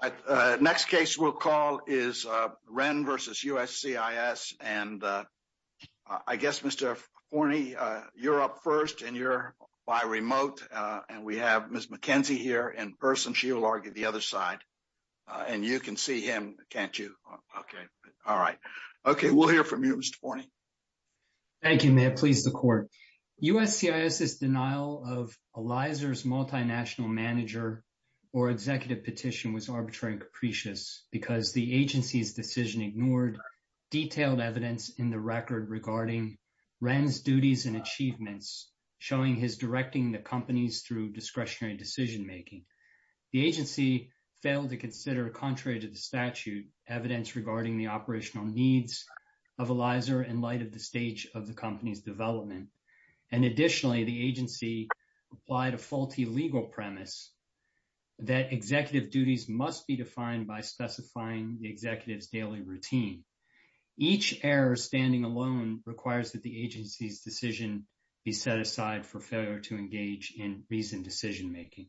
The next case we'll call is Ren v. USCIS. And I guess, Mr. Forney, you're up first and you're by remote. And we have Ms. McKenzie here in person. She will argue the other side. And you can see him, can't you? Okay. All right. Okay. We'll hear from you, Mr. Forney. Thank you, Mayor. Please, the court. USCIS's denial of Eliza's multinational manager or executive petition was arbitrary and capricious because the agency's decision ignored detailed evidence in the record regarding Ren's duties and achievements, showing his directing the companies through discretionary decision making. The agency failed to consider, contrary to the statute, evidence regarding the operational needs of Eliza in light of the stage of the company's development. And additionally, the agency applied a faulty legal premise that executive duties must be defined by specifying the executive's daily routine. Each error standing alone requires that the agency's decision be set aside for failure to engage in reasoned decision making.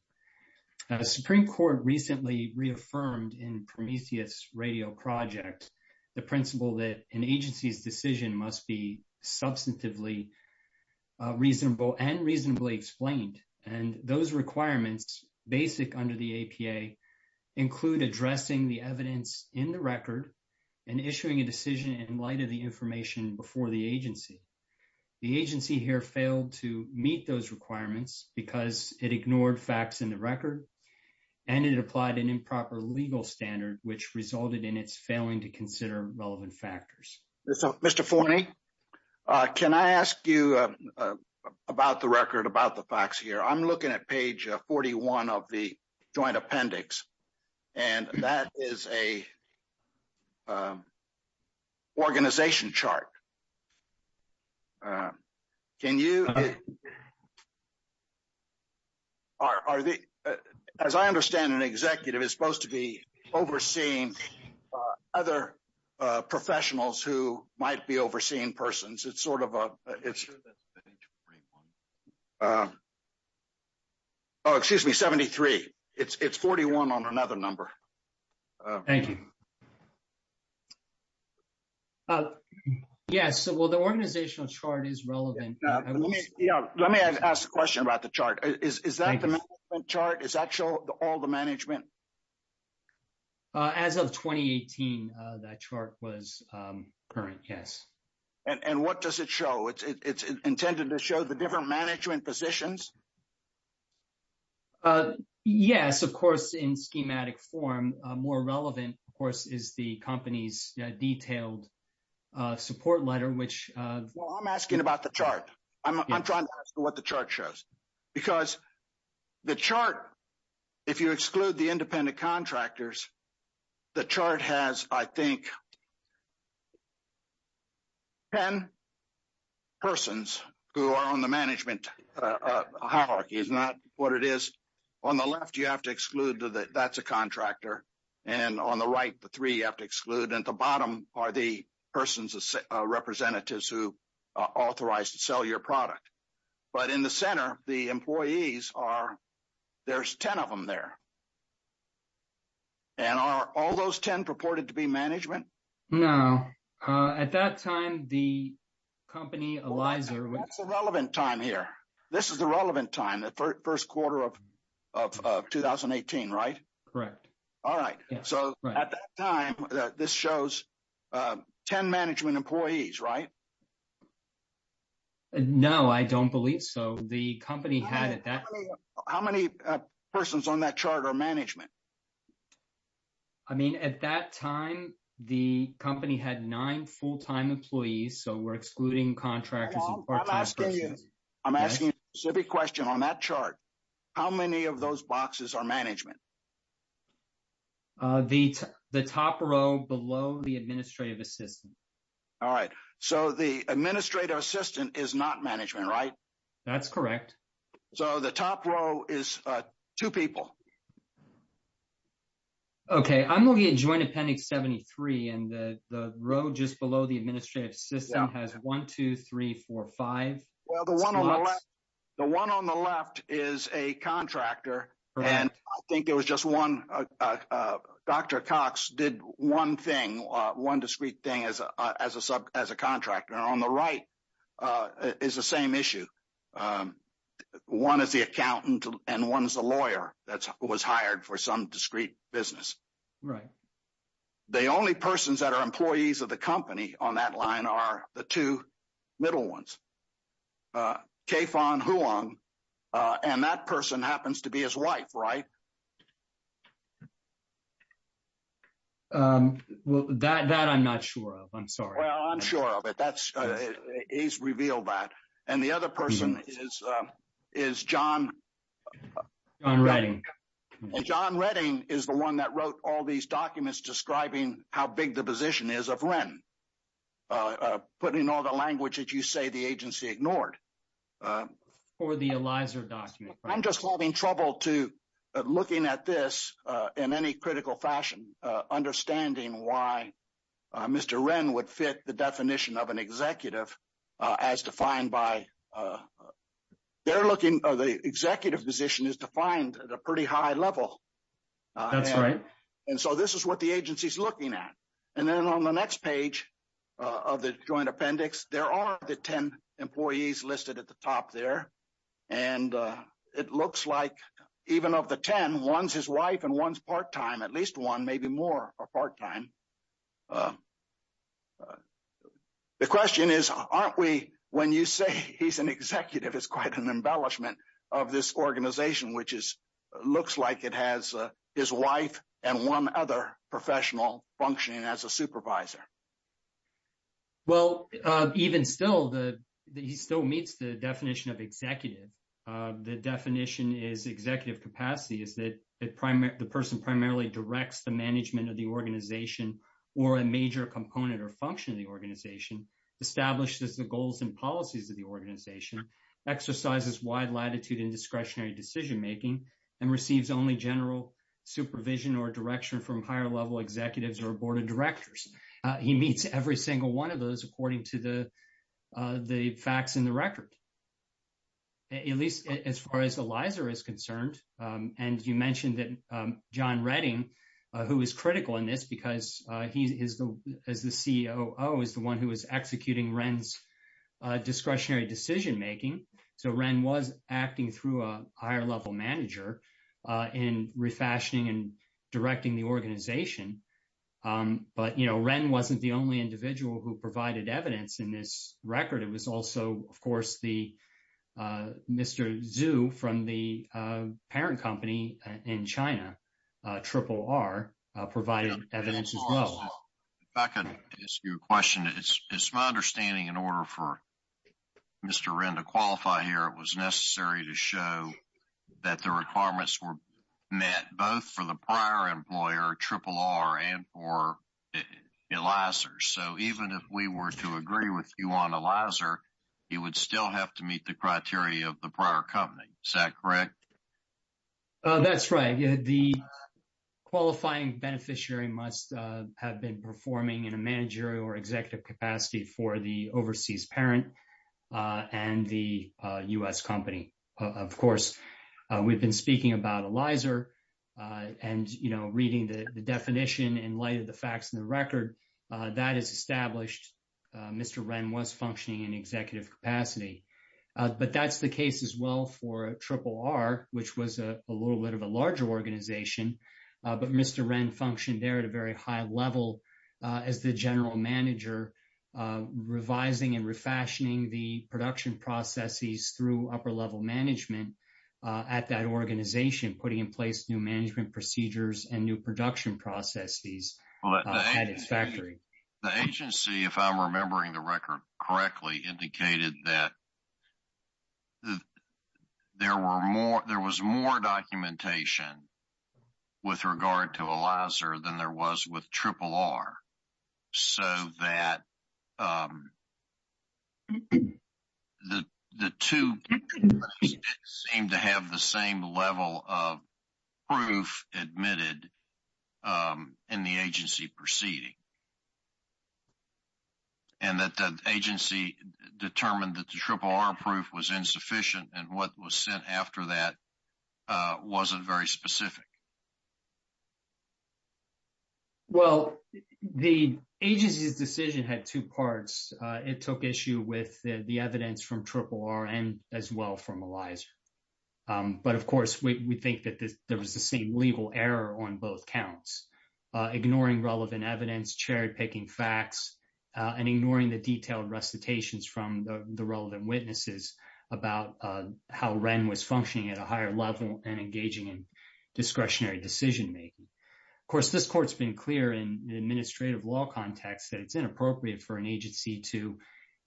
The Supreme Court recently reaffirmed in Prometheus Radio Project, the principle that an agency's decision must be substantively reasonable and reasonably explained. And those requirements, basic under the APA, include addressing the evidence in the record and issuing a decision in light of the information before the agency. The agency here failed to meet those requirements because it ignored facts in the record, and it applied an improper legal standard, which resulted in its failing to consider relevant factors. Mr. Forney, can I ask you about the record, about the facts here? I'm looking at page 41 of the joint appendix, and that is an organization chart. As I understand it, an executive is supposed to be overseeing other professionals who might be overseeing persons. It's sort of a... Oh, excuse me, 73. It's 41 on another number. Thank you. Yes. So, well, the organizational chart is relevant. Let me ask a question about the chart. Is that the management chart? Is that show all the management? As of 2018, that chart was current, yes. And what does it show? It's intended to show the different management positions? Yes. Of course, in schematic form, more relevant, of course, is the company's detailed support letter, which... Well, I'm asking about the chart. I'm trying to ask what the chart shows. Because the chart, if you exclude the independent contractors, the chart has, I think, 10 persons who are on the management hierarchy. It's not what it is. On the left, you have to exclude that that's a contractor. And on the right, the three you have to exclude. At the bottom are the persons, the representatives who are authorized to sell your product. But in the center, the employees are... There's 10 of them there. And are all those 10 purported to be management? No. At that time, the company, Eliza... That's a relevant time here. This is the relevant time, the first quarter of 2018, right? Correct. All right. So, at that time, this shows 10 management employees, right? No, I don't believe so. The company had... How many persons on that chart are management? I mean, at that time, the company had nine full-time employees. So, we're excluding contractors... I'm asking a specific question. On that chart, how many of those boxes are management? The top row below the administrative assistant. All right. So, the administrative assistant is not management, right? That's correct. So, the top row is two people. Okay. I'm looking at Joint Appendix 73, and the row just below the administrative assistant has one, two, three, four, five... Well, the one on the left is a contractor, and I think there was just one... Dr. Cox did one thing, one discrete thing as a contractor. On the right is the same issue. One is the accountant, and one is the lawyer that was hired for some discrete business. Right. The only persons that are employees of the company on that line are the two middle ones, Kaifong Huang, and that person happens to be his wife, right? Well, that I'm not sure of. I'm sorry. Well, I'm sure of it. He's revealed that. And the other person is John... John Redding. John Redding is the one that wrote all these documents describing how big the position is of REN, putting all the language that you say the agency ignored. For the Eliza document. I'm just having trouble looking at this in any critical fashion, understanding why Mr. REN would fit the definition of an executive as defined by... The executive position is defined at a pretty high level. That's right. And so this is what the agency's looking at. And then on the next page of the joint appendix, there are the 10 employees listed at the top there. And it looks like even of the 10, one's his wife and one's part-time, at least one, maybe more are part-time. The question is, aren't we... When you say he's an executive, it's quite an embellishment of this organization, which looks like it has his wife and one other professional functioning as a supervisor. Well, even still, he still meets the definition of executive. The definition is executive capacity is that the person primarily directs the management of the organization or a major component or function of the organization, establishes the goals and policies of the organization, exercises wide latitude and discretionary decision-making, and receives only general supervision or direction from higher-level executives or a board of directors. He meets every single one of those according to the facts in the record, at least as far as Eliza is concerned. And you mentioned that John Redding, who is critical in this because he is the... As the COO, is the one who is executing Wren's discretionary decision-making. So Wren was acting through a higher-level manager in refashioning and directing the organization. But, you know, Wren wasn't the only individual who provided evidence in this record. It was also, of course, the... Mr. Zhu from the parent company in China, Triple R, provided evidence as well. If I could ask you a question, it's my understanding in order for both for the prior employer, Triple R, and for Eliza. So even if we were to agree with you on Eliza, you would still have to meet the criteria of the prior company. Is that correct? Oh, that's right. The qualifying beneficiary must have been performing in a managerial or about Eliza. And, you know, reading the definition in light of the facts in the record, that is established. Mr. Wren was functioning in executive capacity. But that's the case as well for Triple R, which was a little bit of a larger organization. But Mr. Wren functioned there at a very high level as the general manager, revising and refashioning the production processes through upper-level management at that organization, putting in place new management procedures and new production processes at its factory. The agency, if I'm remembering the record correctly, indicated that there was more documentation with regard to Eliza than there was with Triple R. So that the two seemed to have the same level of proof admitted in the agency proceeding. And that the agency determined that the Triple R proof was insufficient and what was sent after that wasn't very specific. Well, the agency's decision had two parts. It took issue with the evidence from Triple R and as well from Eliza. But, of course, we think that there was the same legal error on both counts, ignoring relevant evidence, cherry-picking facts, and ignoring the detailed recitations from the relevant witnesses about how Wren was functioning at a higher level and engaging in discretionary decision-making. Of course, this court's been clear in an administrative law context that it's inappropriate for an agency to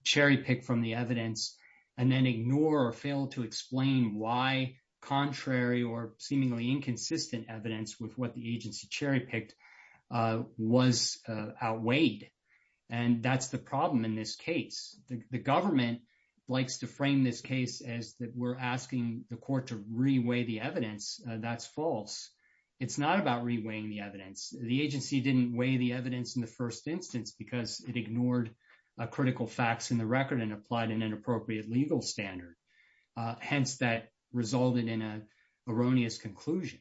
cherry-pick from the evidence and then ignore or fail to explain why contrary or seemingly inconsistent evidence with what the agency cherry-picked was outweighed. And that's the court to reweigh the evidence. That's false. It's not about reweighing the evidence. The agency didn't weigh the evidence in the first instance because it ignored critical facts in the record and applied an inappropriate legal standard. Hence, that resulted in an erroneous conclusion.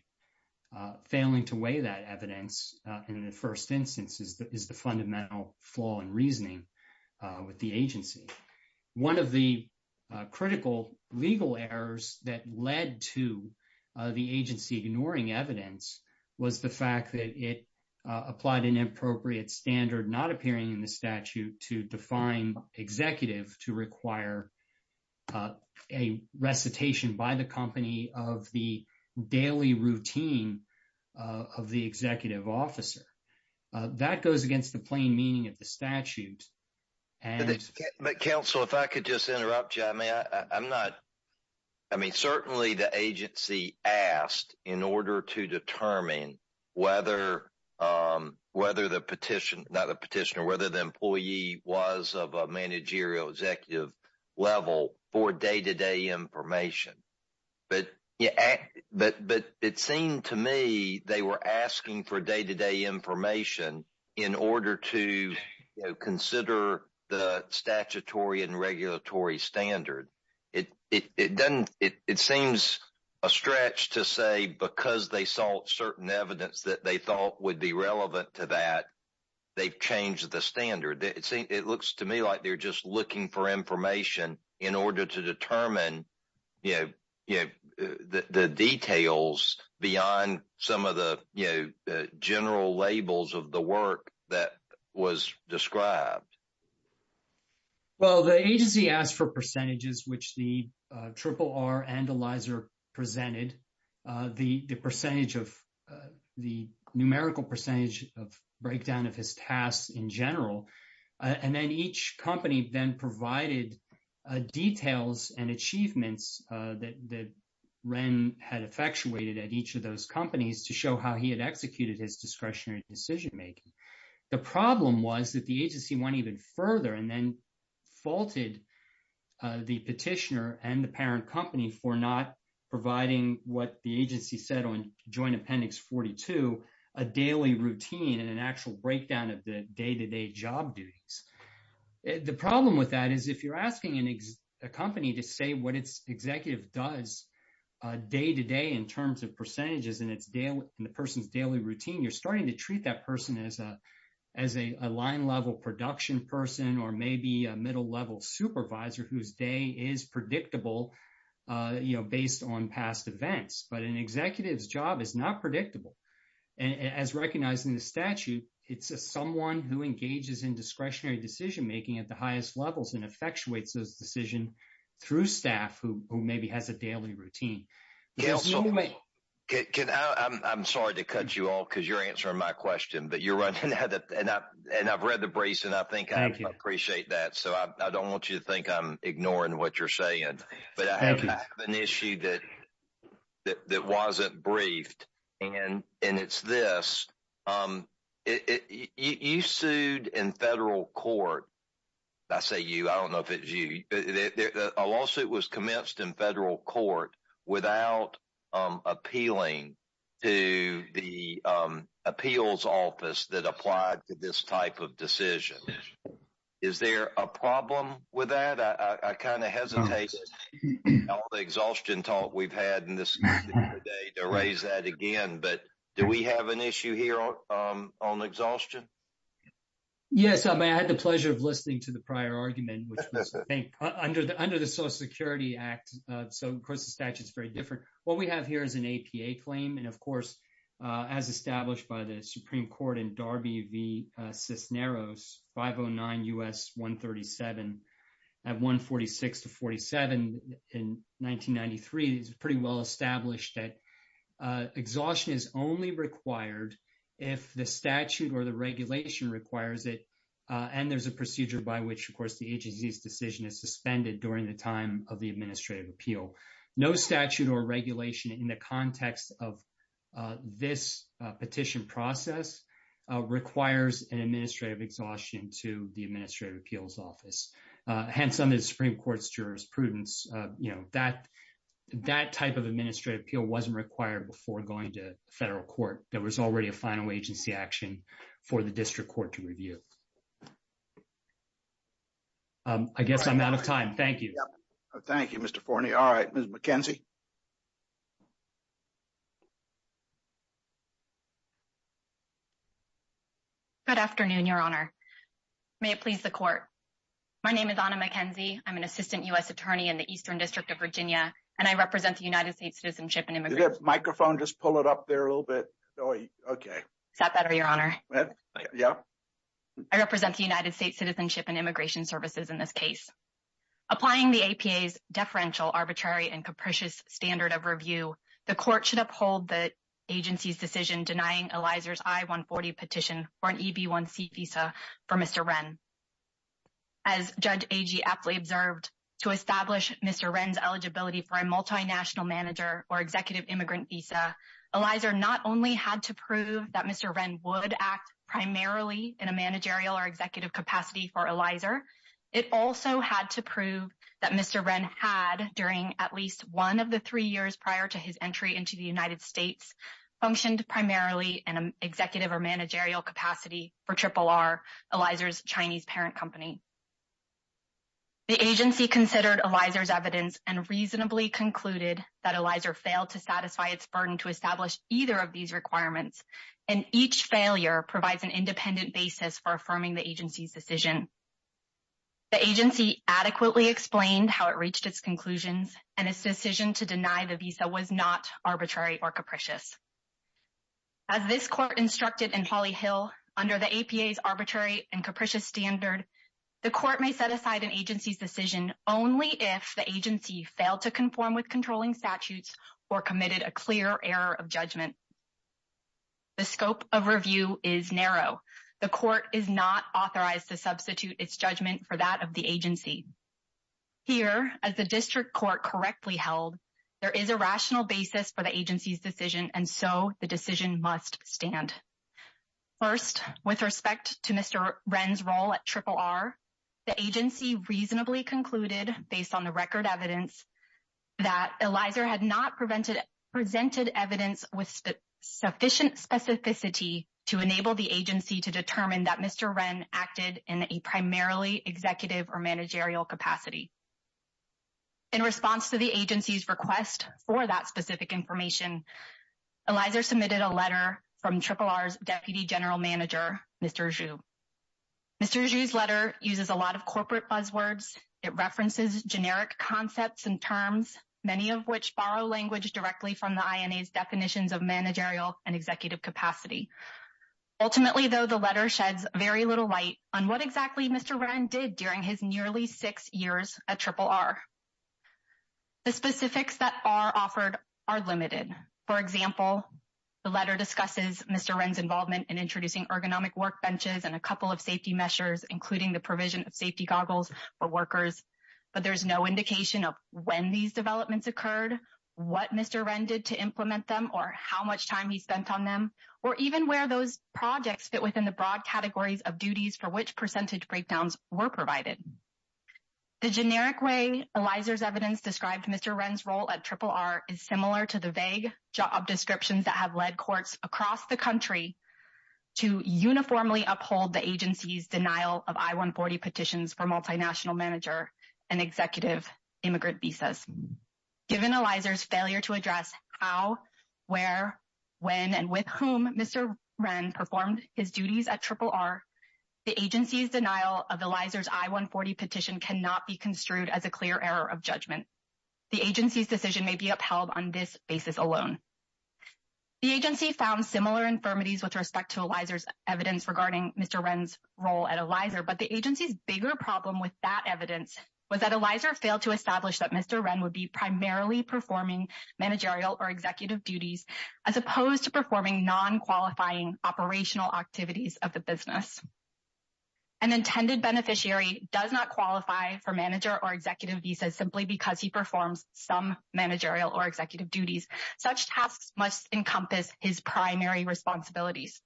Failing to weigh that evidence in the first instance is the fundamental flaw in reasoning with the agency. One of the critical legal errors that led to the agency ignoring evidence was the fact that it applied an inappropriate standard not appearing in the statute to define executive to require a recitation by the company of the daily routine of the executive officer. That goes against the plain meaning of the statute. But, counsel, if I could just interrupt you. I mean, certainly, the agency asked in order to determine whether the petitioner, whether the employee was of a managerial executive level for day-to-day information. But it seemed to me they were asking for day-to-day information in order to consider the statutory and regulatory standard. It seems a stretch to say because they saw certain evidence that they thought would be relevant to that, they've changed the standard. It looks to me like they're just looking for information in order to determine the details beyond some of the general labels of the work that was described. Well, the agency asked for percentages which the RRR and Eliza presented. The numerical percentage of breakdown of his tasks in general. And then each company then provided details and achievements that Ren had effectuated at each of those companies to show how he had executed his discretionary decision-making. The problem was that the agency went even further and then faulted the petitioner and the parent company for not providing what the agency said on routine and an actual breakdown of the day-to-day job duties. The problem with that is if you're asking a company to say what its executive does day-to-day in terms of percentages in the person's daily routine, you're starting to treat that person as a line-level production person or maybe a middle-level supervisor whose day is predictable you know, based on past events. But an executive's job is not predictable. And as recognized in the statute, it's someone who engages in discretionary decision-making at the highest levels and effectuates those decisions through staff who maybe has a daily routine. Yeah. I'm sorry to cut you off because you're answering my question. But you're right. And I've read the briefs and I think I appreciate that. So, I don't want you to think I'm ignoring what you're saying. But I have an issue that wasn't briefed and it's this. You sued in federal court. I say you, I don't know if it's you. A lawsuit was commenced in federal court without appealing to the appeals office that applied to this type of decision. Is there a problem with that? I kind of hesitate with all the exhaustion talk we've had in this meeting today to raise that again. But do we have an issue here on exhaustion? Yes. I mean, I had the pleasure of listening to the prior argument which was, I think, under the Social Security Act. So, of course, the statute is very different. What we have here is an APA claim. And of course, as established by the Supreme Court in Darby v. Cisneros 509 U.S. 137 at 146 to 47 in 1993, it's pretty well established that exhaustion is only required if the statute or the regulation requires it. And there's a procedure by which, of course, the agency's decision is suspended during the time of the administrative appeal. No statute or regulation in the context of this petition process requires an administrative exhaustion to the administrative appeals office. Hence, under the Supreme Court's jurisprudence, that type of administrative appeal wasn't required before going to federal court. There was already a final agency action for the district court to review. I guess I'm out of time. Thank you. Thank you, Mr. Forney. All right, Ms. McKenzie. Good afternoon, Your Honor. May it please the court. My name is Ana McKenzie. I'm an assistant U.S. attorney in the Eastern District of Virginia, and I represent the United States Citizenship and Immigration Services. Did the microphone just pull it up there a little bit? Okay. Is that better, Your Honor? Yeah. I represent the United States Citizenship and Immigration Services in this case. Applying the APA's deferential, arbitrary, and capricious standard of review, the court should uphold the agency's decision denying Eliza's I-140 petition for an EB1C visa for Mr. Wren. As Judge Agee aptly observed, to establish Mr. Wren's eligibility for a multinational manager or executive immigrant visa, Eliza not only had to prove that Mr. Wren would act primarily in a managerial or executive capacity for Eliza, it also had to prove that Mr. Wren, one of the three years prior to his entry into the United States, functioned primarily in an executive or managerial capacity for RRR, Eliza's Chinese parent company. The agency considered Eliza's evidence and reasonably concluded that Eliza failed to satisfy its burden to establish either of these requirements, and each failure provides an independent basis for affirming the agency's decision. The agency adequately explained how it reached its conclusions, and its decision to deny the visa was not arbitrary or capricious. As this court instructed in Hawley-Hill, under the APA's arbitrary and capricious standard, the court may set aside an agency's decision only if the agency failed to conform with controlling statutes or committed a clear error of judgment. The scope of review is narrow. The court is not as the district court correctly held. There is a rational basis for the agency's decision, and so the decision must stand. First, with respect to Mr. Wren's role at RRR, the agency reasonably concluded, based on the record evidence, that Eliza had not presented evidence with sufficient specificity to enable the agency to determine that Mr. Wren acted in a primarily executive or managerial capacity. In response to the agency's request for that specific information, Eliza submitted a letter from RRR's Deputy General Manager, Mr. Xu. Mr. Xu's letter uses a lot of corporate buzzwords. It references generic concepts and terms, many of which borrow language directly from the INA's definitions of managerial and executive capacity. Ultimately, though, the letter sheds very little light on what exactly Mr. Wren did during his nearly six years at RRR. The specifics that are offered are limited. For example, the letter discusses Mr. Wren's involvement in introducing ergonomic workbenches and a couple of safety measures, including the provision of safety goggles for workers, but there's no indication of when these developments occurred, what Mr. Wren did to implement them, or how much time he spent on them, or even where those projects fit within the broad categories of duties for which percentage breakdowns were provided. The generic way Eliza's evidence described Mr. Wren's role at RRR is similar to the vague job descriptions that have led courts across the country to uniformly uphold the agency's denial of I-140 petitions for multinational manager and executive immigrant visas. Given Eliza's failure to address how, where, when, and with whom Mr. Wren performed his duties at RRR, the agency's denial of Eliza's I-140 petition cannot be construed as a clear error of judgment. The agency's decision may be upheld on this basis alone. The agency found similar infirmities with respect to Eliza's evidence regarding Mr. Wren's role at Eliza, but the agency's bigger problem with that evidence was that Eliza failed to establish that Mr. Wren would be primarily performing managerial or executive duties as opposed to performing non-qualifying operational activities of the business. An intended beneficiary does not qualify for manager or executive visas simply because he performs some managerial or executive duties. Such tasks must encompass his primary responsibilities.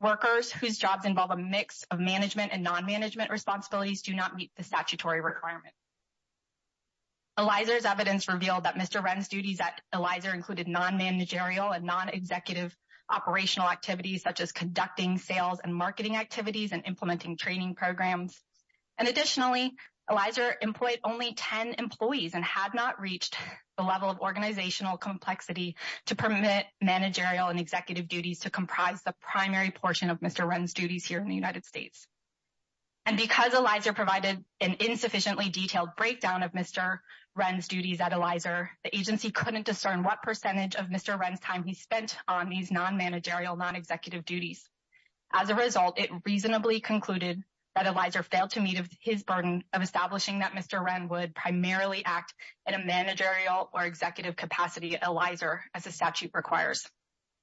Workers whose jobs involve a mix of management and non-management responsibilities do not meet the statutory requirement. Eliza's evidence revealed that Mr. Wren's duties at Eliza included non-managerial and non-executive operational activities such as conducting sales and marketing activities and implementing training programs. And additionally, Eliza employed only 10 employees and had not reached the level of organizational complexity to permit managerial and executive duties to comprise the primary portion of Mr. Wren's duties here in the United States. And because Eliza provided an insufficiently detailed breakdown of Mr. Wren's duties at Eliza, the agency couldn't discern what percentage of Mr. Wren's time he spent on these non-managerial, non-executive duties. As a result, it reasonably concluded that Eliza failed to meet his burden of establishing that Mr. Wren would primarily act in a managerial or executive capacity at Eliza, as the statute requires.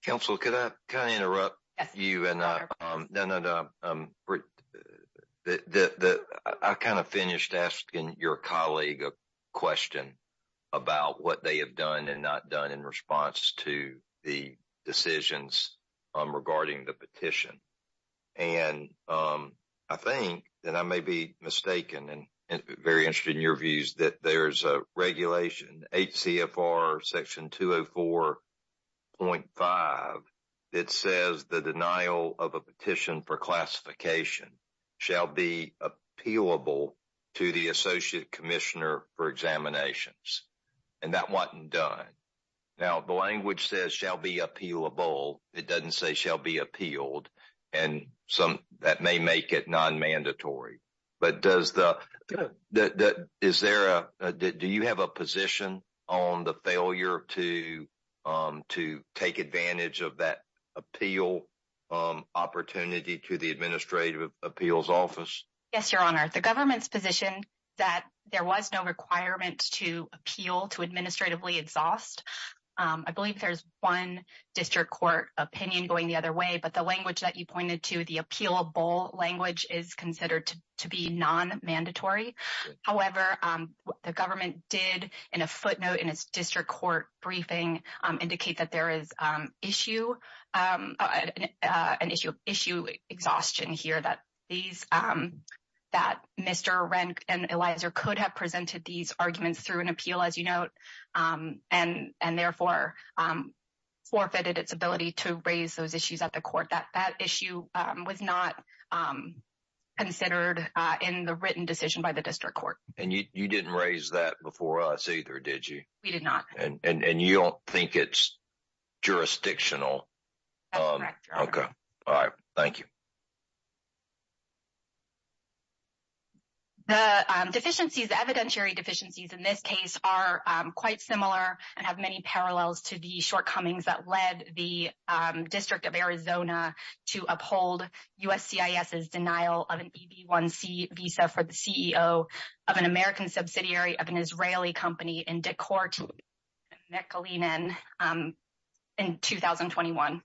Council, could I kind of interrupt you? I kind of finished asking your colleague a question about what they have done and not done in response to the decisions regarding the petition. And I think that I may be mistaken and very interested in your views that there's a regulation, HCFR Section 204.5, that says the denial of a petition for classification shall be appealable to the associate commissioner for examinations. And that wasn't done. Now, the language says shall be appealable. It doesn't say shall be appealed. And that may make it on the failure to take advantage of that appeal opportunity to the Administrative Appeals Office. Yes, Your Honor. The government's position that there was no requirement to appeal to administratively exhaust. I believe there's one district court opinion going the other way, but the language that you pointed to, the appealable language is considered to be non-mandatory. However, the government did, in a footnote in its district court briefing, indicate that there is an issue of issue exhaustion here that Mr. Renk and Eliza could have presented these arguments through an appeal, as you note, and therefore forfeited its ability to raise those issues at the court, that that issue was not considered in the written decision by the district court. And you didn't raise that before us either, did you? We did not. And you don't think it's jurisdictional? That's correct, Your Honor. Okay. All right. Thank you. The deficiencies, the evidentiary deficiencies in this case are quite similar and have many to uphold USCIS's denial of an EB-1C visa for the CEO of an American subsidiary of an Israeli company in Decor Team, McAleenan, in 2021.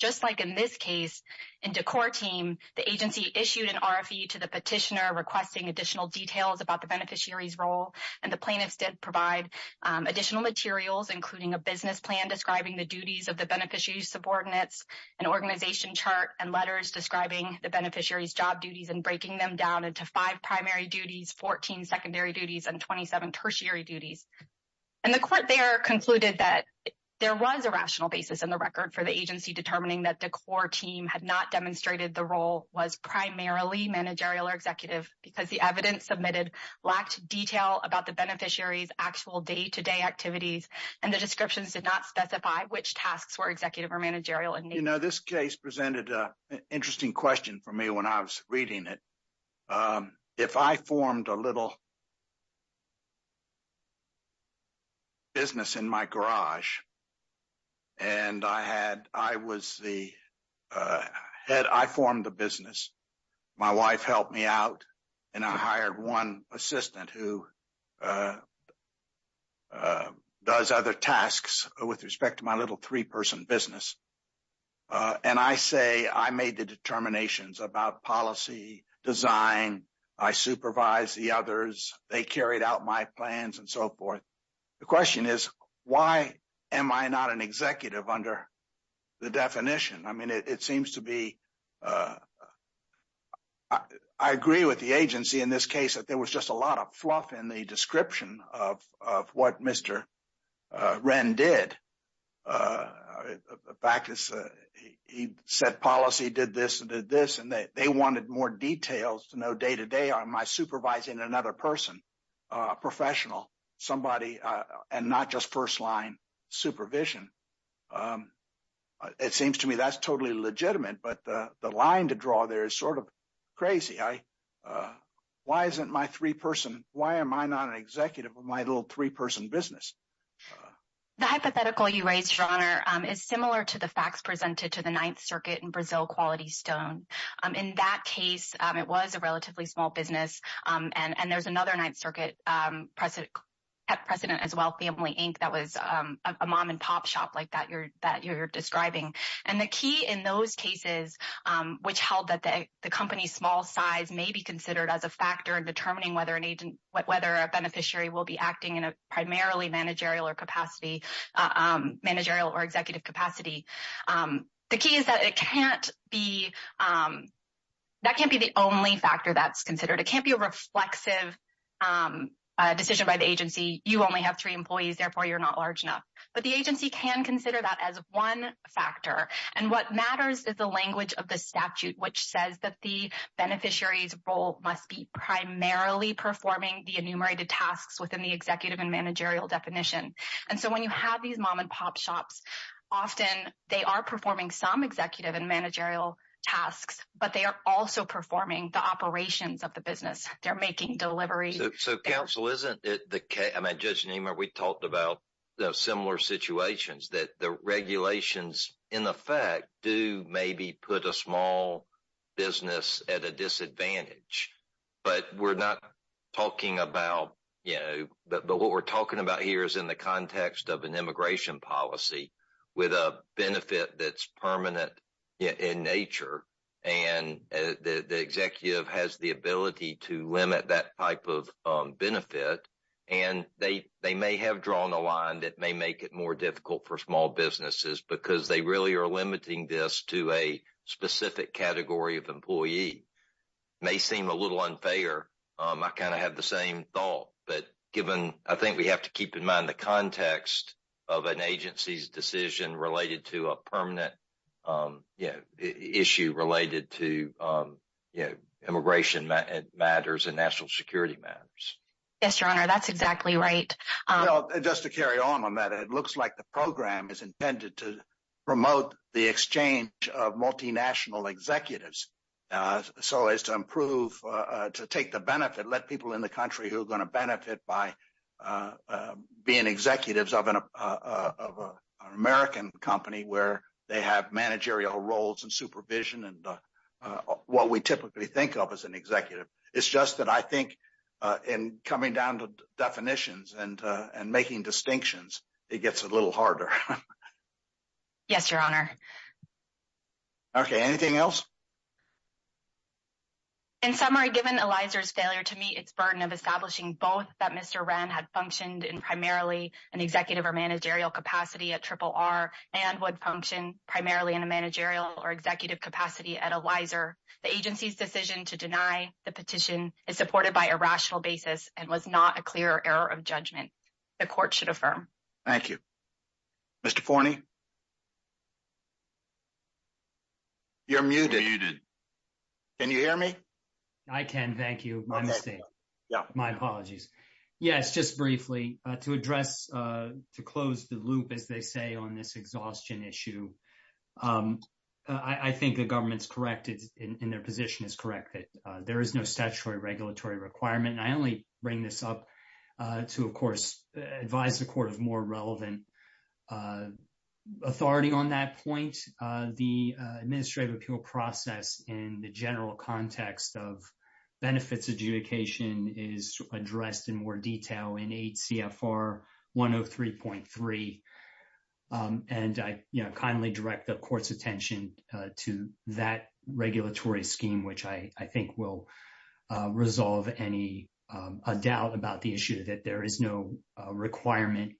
Just like in this case, in Decor Team, the agency issued an RFE to the petitioner requesting additional details about the beneficiary's role, and the plaintiffs did provide additional materials, including a business plan describing the duties of the beneficiary's subordinates, an organization chart, and letters describing the beneficiary's job duties and breaking them down into five primary duties, 14 secondary duties, and 27 tertiary duties. And the court there concluded that there was a rational basis in the record for the agency determining that Decor Team had not demonstrated the role was primarily managerial or executive because the evidence submitted lacked detail about the beneficiary's day-to-day activities, and the descriptions did not specify which tasks were executive or managerial. You know, this case presented an interesting question for me when I was reading it. If I formed a little business in my garage, and I formed a business, my wife helped me out, and I hired one assistant who does other tasks with respect to my little three-person business, and I say I made the determinations about policy, design, I supervised the others, they carried out my plans, and so forth, the question is, why am I not an executive under the definition? I mean, it seems to be, I agree with the agency in this case that there was just a lot of fluff in the description of what Mr. Wren did. The fact is, he set policy, did this, and did this, and they wanted more details to know day-to-day, am I supervising another person, a professional, somebody, and not just first-line supervision. It seems to me that's totally legitimate, but the line to draw there is sort of crazy. Why isn't my three-person, why am I not an executive of my little three-person business? The hypothetical you raised, Your Honor, is similar to the facts presented to the Ninth Circuit in Brazil Quality Stone. In that case, it was a relatively small business, and there's another Ninth Circuit precedent as well, Family Inc., that was a mom-and-pop shop like that you're describing. The key in those cases, which held that the company's small size may be considered as a factor in determining whether an agent, whether a beneficiary will be acting in a primarily managerial or executive capacity, the key is that it can't be, that can't be the only factor that's considered. It can't be a reflexive decision by the agency, you only have three employees, therefore you're not large enough, but the agency can consider that as one factor, and what matters is the language of the statute, which says that the beneficiary's role must be primarily performing the enumerated tasks within the executive and managerial definition, and so when you have these mom-and-pop shops, often they are performing some executive and managerial tasks, but they are also performing the operations of the business, they're making deliveries. So counsel, isn't it the case, I mean Judge Niemeyer, we talked about similar situations, that the regulations in effect do maybe put a small business at a disadvantage, but we're not talking about, you know, but what we're talking about here is in the context of an immigration policy with a benefit that's permanent in nature, and the executive has the ability to limit that type of benefit, and they may have drawn a line that may make it more difficult for small businesses because they really are limiting this to a specific category of employee. May seem a little unfair, I kind of have the same thought, but given, I think we have to keep in context of an agency's decision related to a permanent issue related to immigration matters and national security matters. Yes, your honor, that's exactly right. Just to carry on on that, it looks like the program is intended to promote the exchange of multinational executives, so as to improve, to take the benefit, let people in the country who are executives of an American company, where they have managerial roles and supervision and what we typically think of as an executive, it's just that I think in coming down to definitions and making distinctions, it gets a little harder. Yes, your honor. Okay, anything else? In summary, given Eliza's failure to meet its burden of establishing both, Mr. Wren had functioned in primarily an executive or managerial capacity at RRR and would function primarily in a managerial or executive capacity at Eliza, the agency's decision to deny the petition is supported by a rational basis and was not a clear error of judgment. The court should affirm. Thank you. Mr. Forney? You're muted. Can you hear me? I can, thank you. My mistake. My apologies. Yes, just briefly, to address, to close the loop, as they say on this exhaustion issue, I think the government's correct in their position is correct that there is no statutory regulatory requirement and I only bring this up to, of course, advise the court of more relevant authority on that point. The administrative appeal process in the general context of benefits adjudication is addressed in more detail in 8 CFR 103.3 and I kindly direct the court's attention to that regulatory scheme, which I think will resolve any doubt about the issue that there is no requirement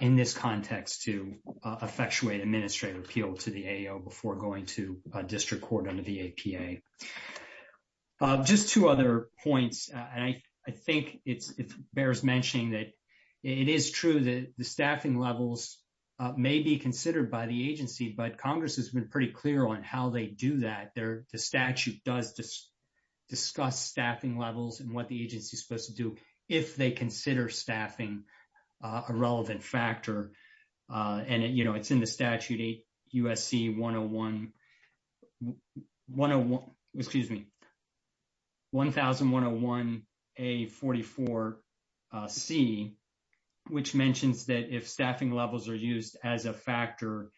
in this context to effectuate administrative appeal to the AO before to district court under the APA. Just two other points, and I think it bears mentioning that it is true that the staffing levels may be considered by the agency, but Congress has been pretty clear on how they do that. The statute does discuss staffing levels and what the agency is supposed to do if they consider staffing a relevant factor. And, you know, it's in the 1001, excuse me, 1001A44C, which mentions that if staffing levels are used as a factor,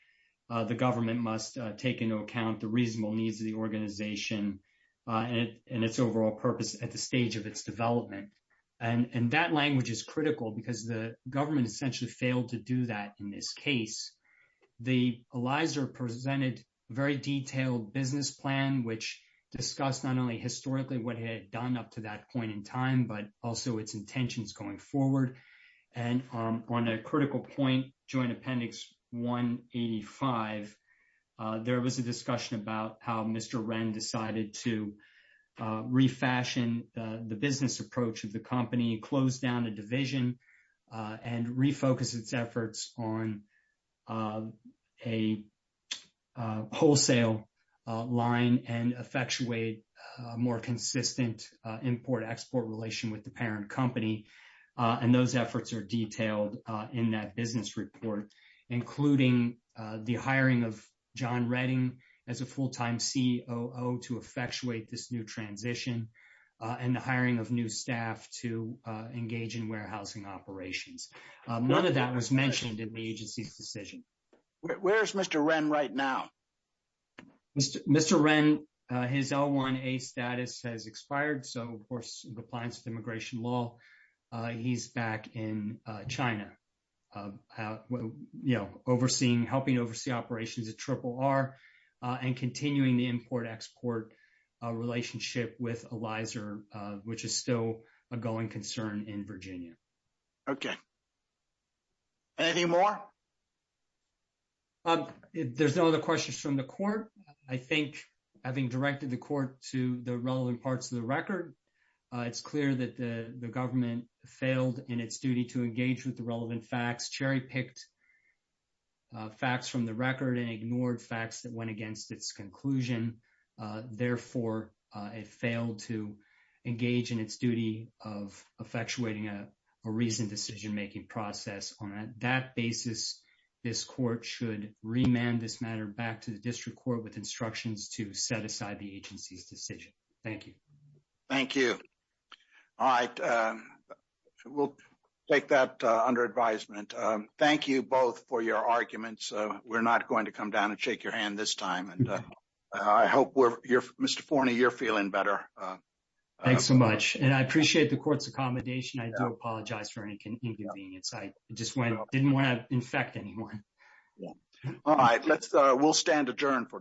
the government must take into account the reasonable needs of the organization and its overall purpose at the stage of its development. And that language is critical because the government essentially failed to do that in this case. The ELISR presented a very detailed business plan, which discussed not only historically what it had done up to that point in time, but also its intentions going forward. And on a critical point, Joint Appendix 185, there was a discussion about how Mr. Wren decided to refashion the business approach of the company, close down a division, and refocus its efforts on a wholesale line and effectuate a more consistent import-export relation with the parent company. And those efforts are detailed in that business report, including the hiring of John Redding as a full-time COO to effectuate this new transition, and the hiring of new staff to engage in warehousing operations. None of that was mentioned in the agency's decision. Where's Mr. Wren right now? Mr. Wren, his L1A status has expired. So, of course, in compliance with immigration law, he's back in China, you know, overseeing, helping oversee operations at RRR and continuing the ELISR, which is still a going concern in Virginia. Okay. Any more? There's no other questions from the court. I think, having directed the court to the relevant parts of the record, it's clear that the government failed in its duty to engage with the relevant facts, cherry-picked facts from the record and ignored facts that went against its conclusion. Therefore, it failed to engage in its duty of effectuating a reasoned decision-making process. On that basis, this court should remand this matter back to the district court with instructions to set aside the agency's decision. Thank you. Thank you. All right. We'll take that under advisement. Thank you both for your arguments. We're not going to come down and shake your hand this time. I hope, Mr. Forney, you're feeling better. Thanks so much. And I appreciate the court's accommodation. I do apologize for any inconvenience. I just didn't want to infect anyone. All right. We'll stand adjourned for today.